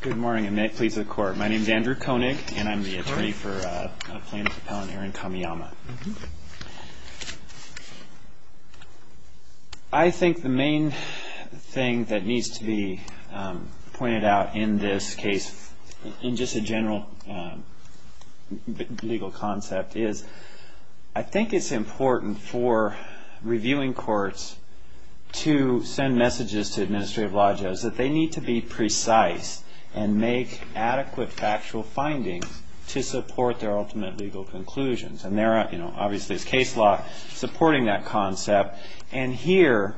Good morning, and may it please the Court. My name is Andrew Koenig, and I'm the attorney for plaintiff-appellant Aaron Kamiyama. I think the main thing that needs to be pointed out in this case, in just a general legal concept, is I think it's important for reviewing courts to send messages to administrative lodges that they need to be precise and make adequate factual findings to support their ultimate legal conclusions. And there, obviously, is case law supporting that concept. And here,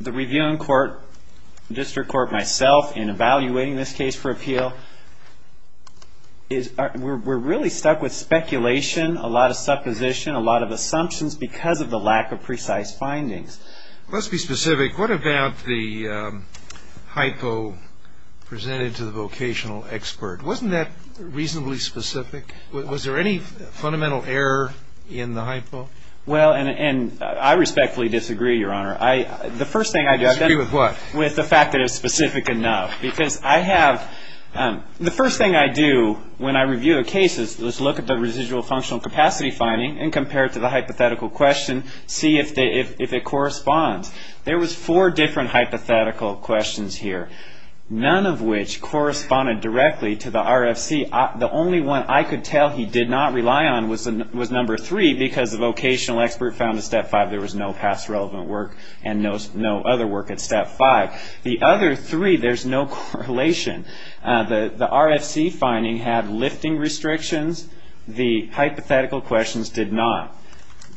the reviewing court, the district court, myself, in evaluating this case for appeal, we're really stuck with speculation, a lot of supposition, a lot of assumptions because of the lack of precise findings. Let's be specific. What about the hypo presented to the vocational expert? Wasn't that reasonably specific? Was there any fundamental error in the hypo? Well, and I respectfully disagree, Your Honor. Disagree with what? With the fact that it's specific enough. Because I have, the first thing I do when I review a case is look at the residual functional capacity finding and compare it to the hypothetical question, see if it corresponds. There was four different hypothetical questions here, none of which corresponded directly to the RFC. The only one I could tell he did not rely on was number three because the vocational expert found in step five there was no past relevant work and no other work at step five. The other three, there's no correlation. The RFC finding had lifting restrictions. The hypothetical questions did not.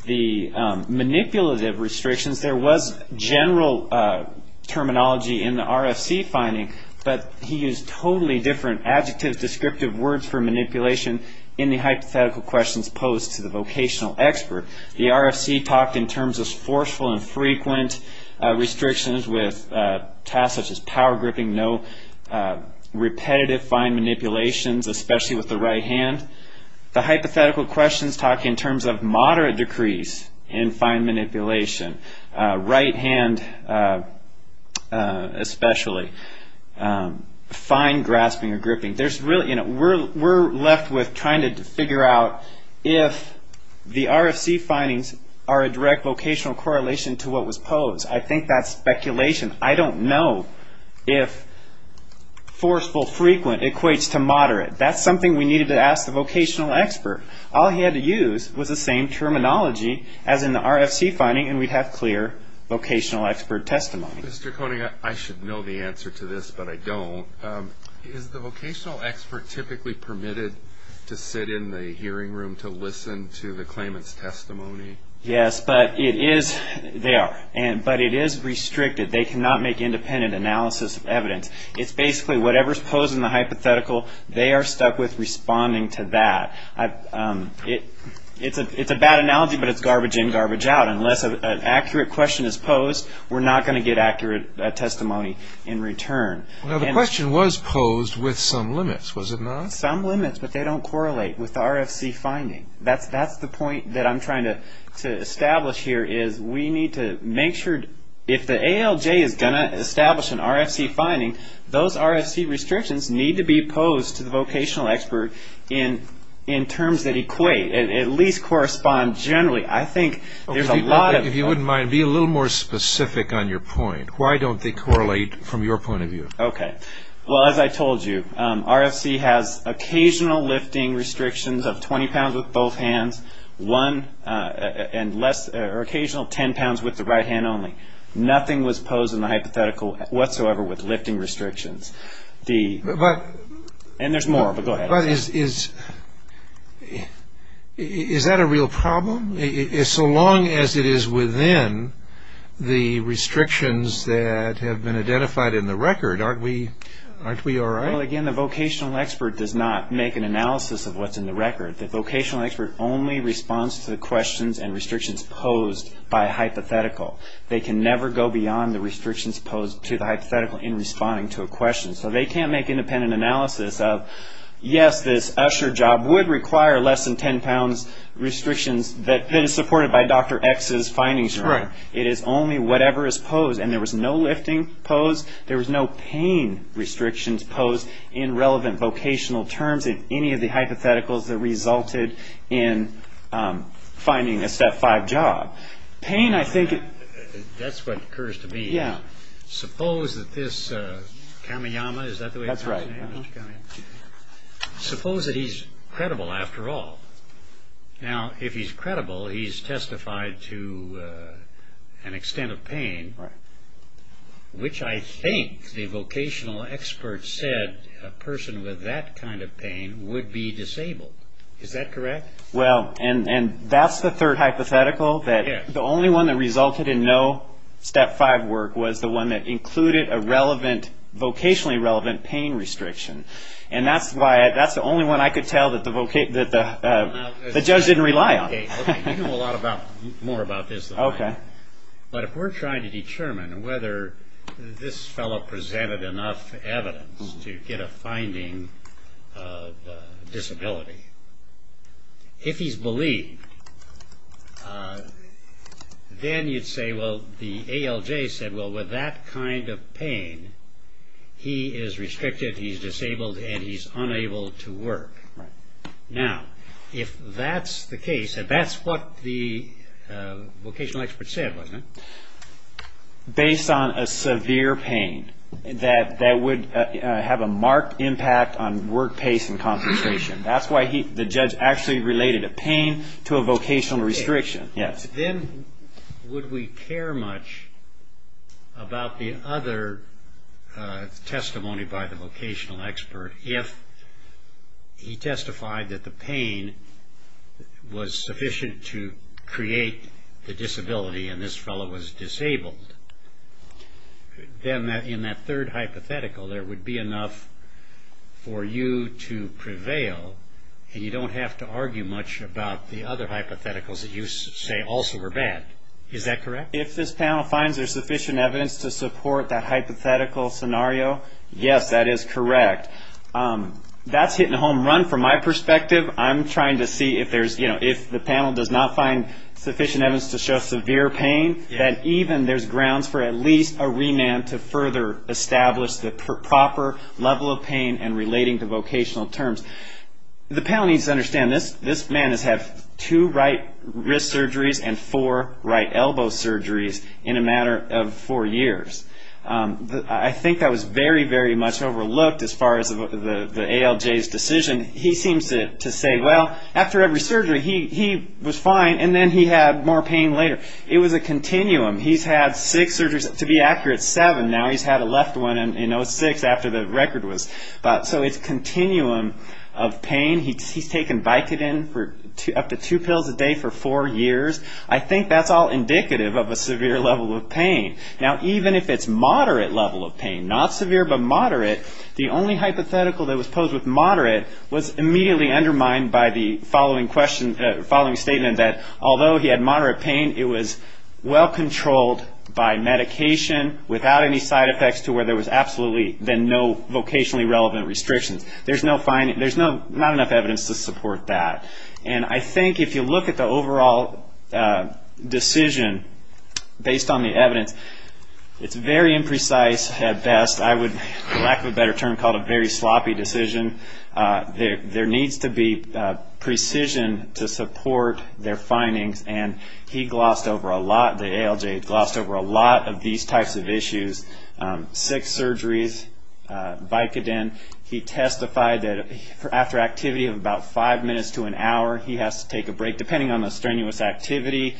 The manipulative restrictions, there was general terminology in the RFC finding, but he used totally different adjectives, descriptive words for manipulation in the hypothetical questions posed to the vocational expert. The RFC talked in terms of forceful and frequent restrictions with tasks such as power gripping, no repetitive fine manipulations, especially with the right hand. The hypothetical questions talk in terms of moderate decrease in fine manipulation, right hand especially, fine grasping or gripping. We're left with trying to figure out if the RFC findings are a direct vocational correlation to what was posed. I think that's speculation. I don't know if forceful frequent equates to moderate. That's something we needed to ask the vocational expert. All he had to use was the same terminology as in the RFC finding, and we'd have clear vocational expert testimony. Mr. Koenig, I should know the answer to this, but I don't. Is the vocational expert typically permitted to sit in the hearing room to listen to the claimant's testimony? Yes, but it is restricted. They cannot make independent analysis of evidence. It's basically whatever's posed in the hypothetical, they are stuck with responding to that. It's a bad analogy, but it's garbage in, garbage out. Unless an accurate question is posed, we're not going to get accurate testimony in return. The question was posed with some limits, was it not? Some limits, but they don't correlate with the RFC finding. That's the point that I'm trying to establish here, is we need to make sure if the ALJ is going to establish an RFC finding, those RFC restrictions need to be posed to the vocational expert in terms that equate, at least correspond generally. I think there's a lot of... If you wouldn't mind, be a little more specific on your point. Why don't they correlate from your point of view? Okay. Well, as I told you, RFC has occasional lifting restrictions of 20 pounds with both hands, and occasional 10 pounds with the right hand only. Nothing was posed in the hypothetical whatsoever with lifting restrictions. And there's more, but go ahead. Is that a real problem? So long as it is within the restrictions that have been identified in the record, aren't we all right? Well, again, the vocational expert does not make an analysis of what's in the record. The vocational expert only responds to the questions and restrictions posed by a hypothetical. They can never go beyond the restrictions posed to the hypothetical in responding to a question. So they can't make independent analysis of, yes, this usher job would require less than 10 pounds restrictions that is supported by Dr. X's findings. It is only whatever is posed. And there was no lifting posed, there was no pain restrictions posed in relevant vocational terms in any of the hypotheticals that resulted in finding a Step 5 job. Pain, I think... That's what occurs to me. Yeah. Suppose that this Kamiyama, is that the way it's called? That's right. Suppose that he's credible after all. Now, if he's credible, he's testified to an extent of pain, which I think the vocational expert said a person with that kind of pain would be disabled. Is that correct? Well, and that's the third hypothetical. The only one that resulted in no Step 5 work was the one that included a vocationally relevant pain restriction. And that's the only one I could tell that the judge didn't rely on. You know a lot more about this than I do. Okay. But if we're trying to determine whether this fellow presented enough evidence to get a finding of disability, if he's believed, then you'd say, well, the ALJ said, well, with that kind of pain, he is restricted, he's disabled, and he's unable to work. Right. Now, if that's the case, if that's what the vocational expert said, wasn't it? Based on a severe pain that would have a marked impact on work pace and concentration. That's why the judge actually related a pain to a vocational restriction. Yes. Then would we care much about the other testimony by the vocational expert if he testified that the pain was sufficient to create the disability and this fellow was disabled? Then in that third hypothetical, there would be enough for you to prevail and you don't have to argue much about the other hypotheticals that you say also were bad. Is that correct? If this panel finds there's sufficient evidence to support that hypothetical scenario, yes, that is correct. That's hitting a home run from my perspective. I'm trying to see if there's, you know, if the panel does not find sufficient evidence to show severe pain, that even there's grounds for at least a remand to further establish the proper level of pain and relating to vocational terms. The panel needs to understand this man has had two right wrist surgeries and four right elbow surgeries in a matter of four years. I think that was very, very much overlooked as far as the ALJ's decision. He seems to say, well, after every surgery, he was fine, and then he had more pain later. It was a continuum. He's had six surgeries, to be accurate, seven now. He's had a left one in 06 after the record was. So it's a continuum of pain. He's taken Vicodin up to two pills a day for four years. I think that's all indicative of a severe level of pain. Now, even if it's moderate level of pain, not severe but moderate, the only hypothetical that was posed with moderate was immediately undermined by the following statement that although he had moderate pain, it was well controlled by medication without any side effects to where there was absolutely then no vocationally relevant restrictions. There's not enough evidence to support that. And I think if you look at the overall decision based on the evidence, it's very imprecise at best. I would, for lack of a better term, call it a very sloppy decision. There needs to be precision to support their findings, and he glossed over a lot, the ALJ glossed over a lot of these types of issues. Six surgeries, Vicodin, he testified that after activity of about five minutes to an hour, he has to take a break depending on the strenuous activity.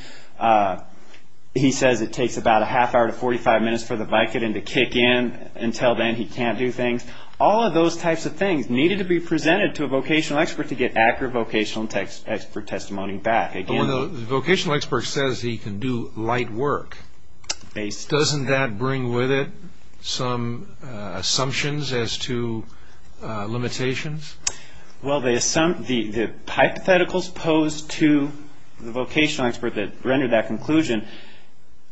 He says it takes about a half hour to 45 minutes for the Vicodin to kick in. Until then, he can't do things. All of those types of things needed to be presented to a vocational expert to get accurate vocational expert testimony back. But when the vocational expert says he can do light work, doesn't that bring with it some assumptions as to limitations? Well, the hypotheticals posed to the vocational expert that rendered that conclusion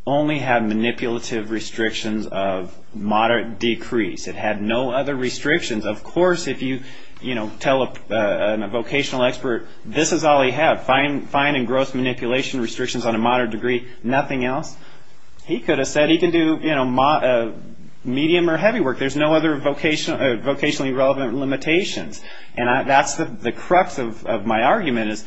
only had manipulative restrictions of moderate decrease. It had no other restrictions. Of course, if you tell a vocational expert this is all he had, fine and gross manipulation restrictions on a moderate degree, nothing else, he could have said he can do medium or heavy work. There's no other vocationally relevant limitations. The crux of my argument is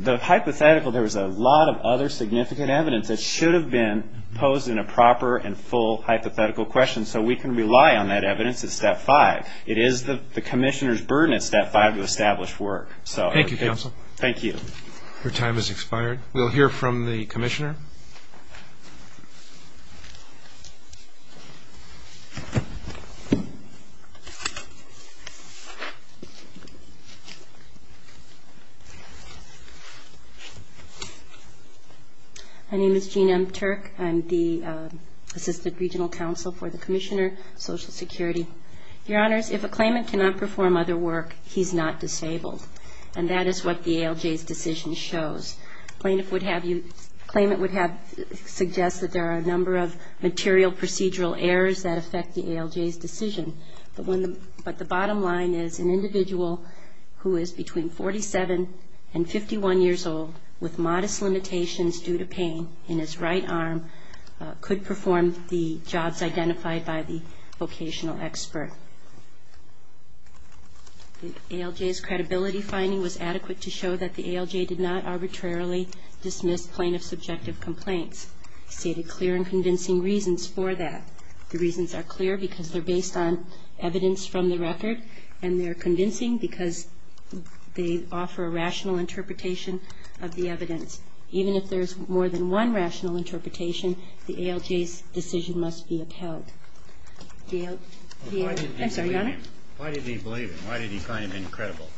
the hypothetical, there was a lot of other significant evidence that should have been posed in a proper and full hypothetical question so we can rely on that evidence at step five. It is the commissioner's burden at step five to establish work. Thank you, counsel. Thank you. Your time has expired. We'll hear from the commissioner. My name is Jean M. Turk. I'm the Assistant Regional Counsel for the Commissioner, Social Security. Your Honors, if a claimant cannot perform other work, he's not disabled. And that is what the ALJ's decision shows. A claimant would have you ‑‑ a claimant would have suggested there are a number of material procedural errors that affect the ALJ's decision. But the bottom line is an individual who is between 47 and 51 years old, with modest limitations due to pain in his right arm, could perform the jobs identified by the vocational expert. The ALJ's credibility finding was adequate to show that the ALJ did not arbitrarily dismiss plaintiff's subjective complaints. He stated clear and convincing reasons for that. The reasons are clear because they're based on evidence from the record, and they're convincing because they offer a rational interpretation of the evidence. Even if there's more than one rational interpretation, the ALJ's decision must be upheld. I'm sorry, Your Honor? Why did he believe it? Why did he find it incredible?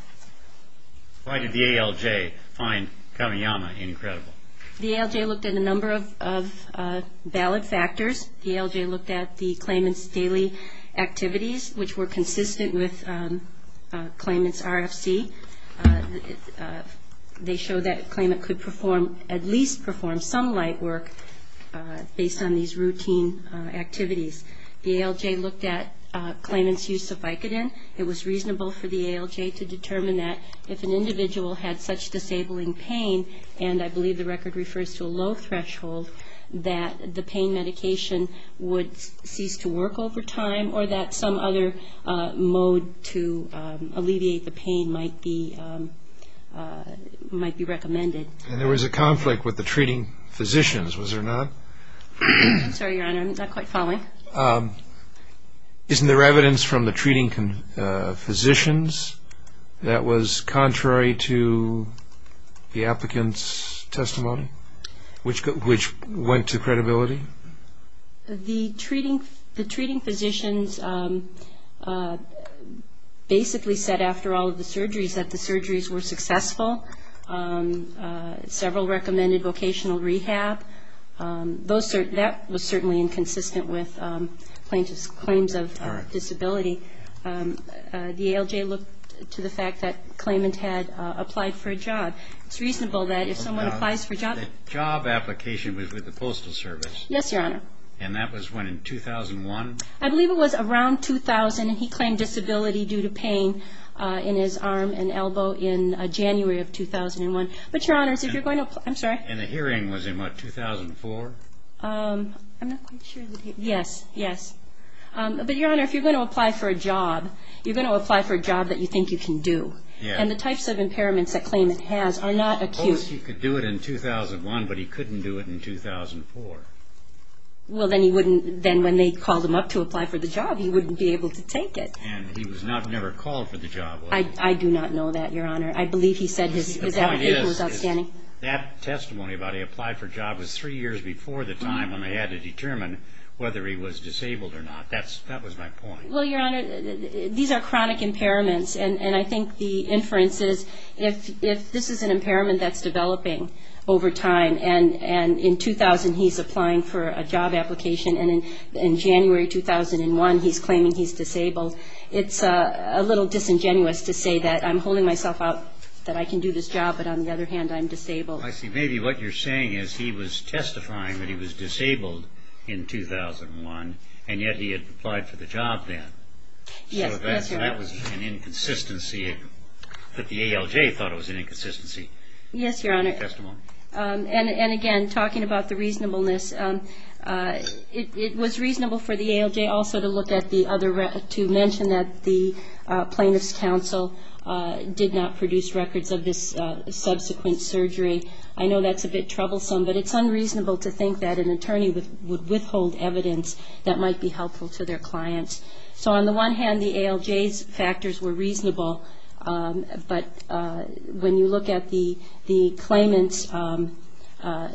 Why did the ALJ find Kamiyama incredible? The ALJ looked at a number of valid factors. The ALJ looked at the claimant's daily activities, which were consistent with claimant's RFC. They showed that a claimant could perform, at least perform, some light work based on these routine activities. The ALJ looked at claimant's use of Vicodin. It was reasonable for the ALJ to determine that if an individual had such disabling pain, and I believe the record refers to a low threshold, that the pain medication would cease to work over time, or that some other mode to alleviate the pain might be recommended. And there was a conflict with the treating physicians, was there not? I'm sorry, Your Honor. I'm not quite following. Isn't there evidence from the treating physicians that was contrary to the applicant's testimony, which went to credibility? The treating physicians basically said after all of the surgeries that the surgeries were successful. Several recommended vocational rehab. That was certainly inconsistent with claims of disability. The ALJ looked to the fact that claimant had applied for a job. It's reasonable that if someone applies for a job. The job application was with the Postal Service. Yes, Your Honor. And that was when, in 2001? I believe it was around 2000, and he claimed disability due to pain in his arm and elbow in January of 2001. But, Your Honors, if you're going to apply, I'm sorry. And the hearing was in what, 2004? I'm not quite sure. Yes, yes. But, Your Honor, if you're going to apply for a job, you're going to apply for a job that you think you can do. Yes. And the types of impairments that claimant has are not acute. Post, he could do it in 2001, but he couldn't do it in 2004. Well, then he wouldn't, then when they called him up to apply for the job, he wouldn't be able to take it. And he was never called for the job, was he? I do not know that, Your Honor. I believe he said his outpatient was outstanding. That testimony about he applied for a job was three years before the time when they had to determine whether he was disabled or not. That was my point. Well, Your Honor, these are chronic impairments, and I think the inference is if this is an impairment that's developing over time, and in 2000 he's applying for a job application, and in January 2001 he's claiming he's disabled, it's a little disingenuous to say that I'm holding myself out, that I can do this job, but on the other hand I'm disabled. I see. Maybe what you're saying is he was testifying that he was disabled in 2001, and yet he had applied for the job then. Yes. So that was an inconsistency that the ALJ thought was an inconsistency. Yes, Your Honor. That testimony. And, again, talking about the reasonableness, it was reasonable for the ALJ also to look at the other, to mention that the Plaintiff's Counsel did not produce records of this subsequent surgery. I know that's a bit troublesome, but it's unreasonable to think that an attorney would withhold evidence that might be helpful to their clients. So on the one hand, the ALJ's factors were reasonable, but when you look at the claimant's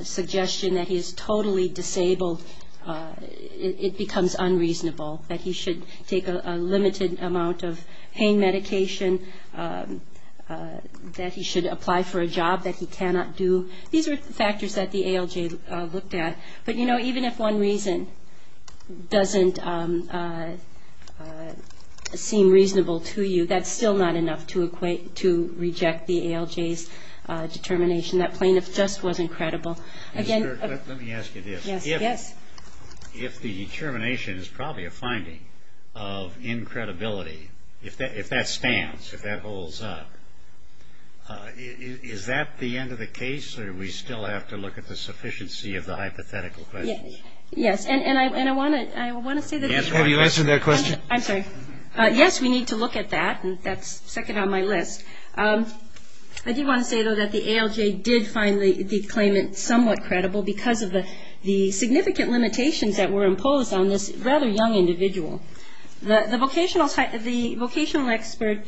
suggestion that he is totally disabled, it becomes unreasonable, that he should take a limited amount of pain medication, that he should apply for a job that he cannot do. These are factors that the ALJ looked at. But, you know, even if one reason doesn't seem reasonable to you, that's still not enough to reject the ALJ's determination that plaintiff just wasn't credible. Let me ask you this. Yes. If the determination is probably a finding of incredibility, if that stands, if that holds up, is that the end of the case, or do we still have to look at the sufficiency of the hypothetical questions? Yes. And I want to say that this was a... Have you answered that question? I'm sorry. Yes, we need to look at that, and that's second on my list. I do want to say, though, that the ALJ did find the claimant somewhat credible because of the significant limitations that were imposed on this rather young individual. The vocational expert,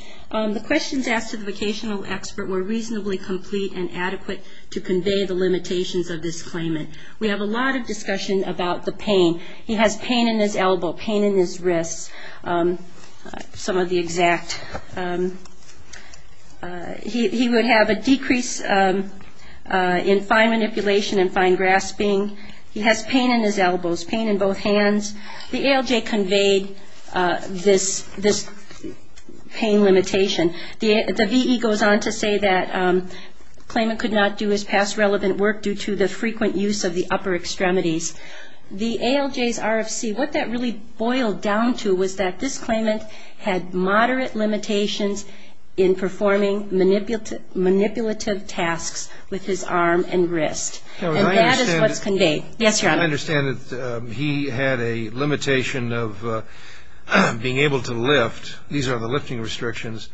the questions asked to the vocational expert were reasonably complete and adequate to convey the limitations of this claimant. We have a lot of discussion about the pain. He has pain in his elbow, pain in his wrists, some of the exact. He would have a decrease in fine manipulation and fine grasping. He has pain in his elbows, pain in both hands. The ALJ conveyed this pain limitation. The VE goes on to say that the claimant could not do his past relevant work due to the frequent use of the upper extremities. The ALJ's RFC, what that really boiled down to was that this claimant had moderate limitations in performing manipulative tasks with his arm and wrist. And that is what's conveyed. Yes, Your Honor. I understand that he had a limitation of being able to lift. These are the lifting restrictions.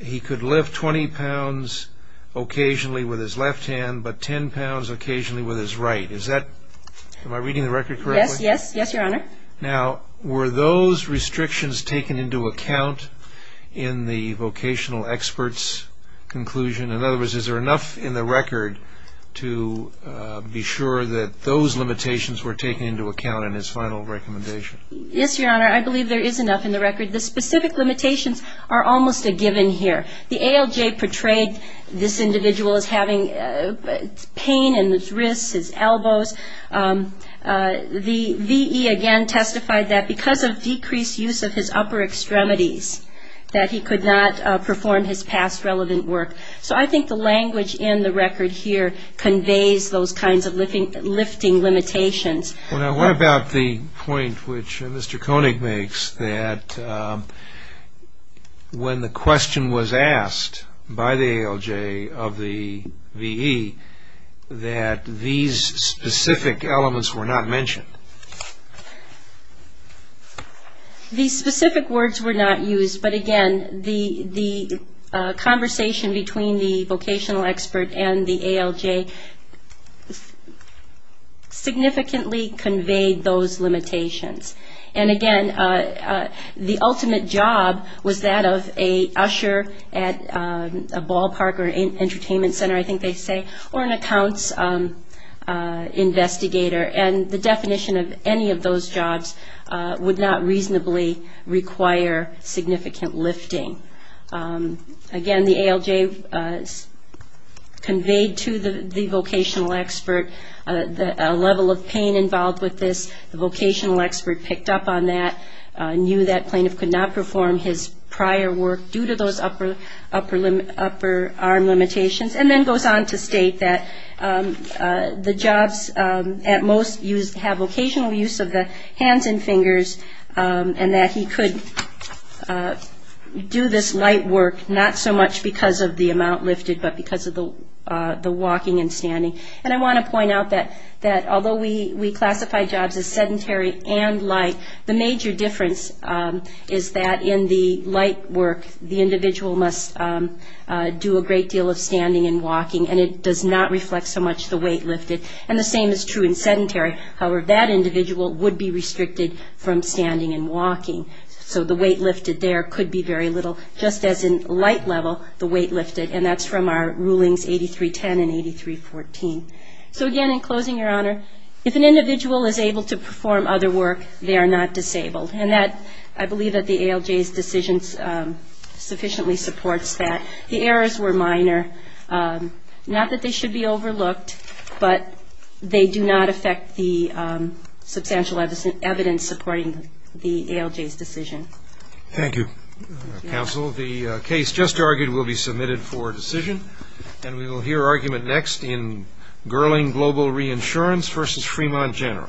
He could lift 20 pounds occasionally with his left hand, but 10 pounds occasionally with his right. Is that, am I reading the record correctly? Yes, yes, yes, Your Honor. Now, were those restrictions taken into account in the vocational expert's conclusion? In other words, is there enough in the record to be sure that those limitations were taken into account in his final recommendation? Yes, Your Honor. I believe there is enough in the record. The specific limitations are almost a given here. The ALJ portrayed this individual as having pain in his wrists, his elbows. The VE, again, testified that because of decreased use of his upper extremities, that he could not perform his past relevant work. So I think the language in the record here conveys those kinds of lifting limitations. Well, now, what about the point which Mr. Koenig makes that when the question was asked by the ALJ of the VE, that these specific elements were not mentioned? The specific words were not used, but, again, the conversation between the vocational expert and the ALJ significantly conveyed those limitations. And, again, the ultimate job was that of an usher at a ballpark or an entertainment center, I think they say, or an accounts investigator. And the definition of any of those jobs would not reasonably require significant lifting. Again, the ALJ conveyed to the vocational expert a level of pain involved with this. The vocational expert picked up on that, knew that plaintiff could not perform his prior work due to those upper arm limitations, and then goes on to state that the jobs at most have vocational use of the hands and fingers, and that he could do this light work not so much because of the amount lifted, but because of the walking and standing. And I want to point out that although we classify jobs as sedentary and light, the major difference is that in the light work, the individual must do a great deal of standing and walking, and it does not reflect so much the weight lifted. And the same is true in sedentary. However, that individual would be restricted from standing and walking. So the weight lifted there could be very little, just as in light level, the weight lifted, and that's from our rulings 8310 and 8314. So again, in closing, Your Honor, if an individual is able to perform other work, they are not disabled. And that, I believe that the ALJ's decision sufficiently supports that. The errors were minor, not that they should be overlooked, but they do not affect the substantial evidence supporting the ALJ's decision. Thank you. Counsel, the case just argued will be submitted for decision, and we will hear argument next in Gurling Global Reinsurance v. Fremont General.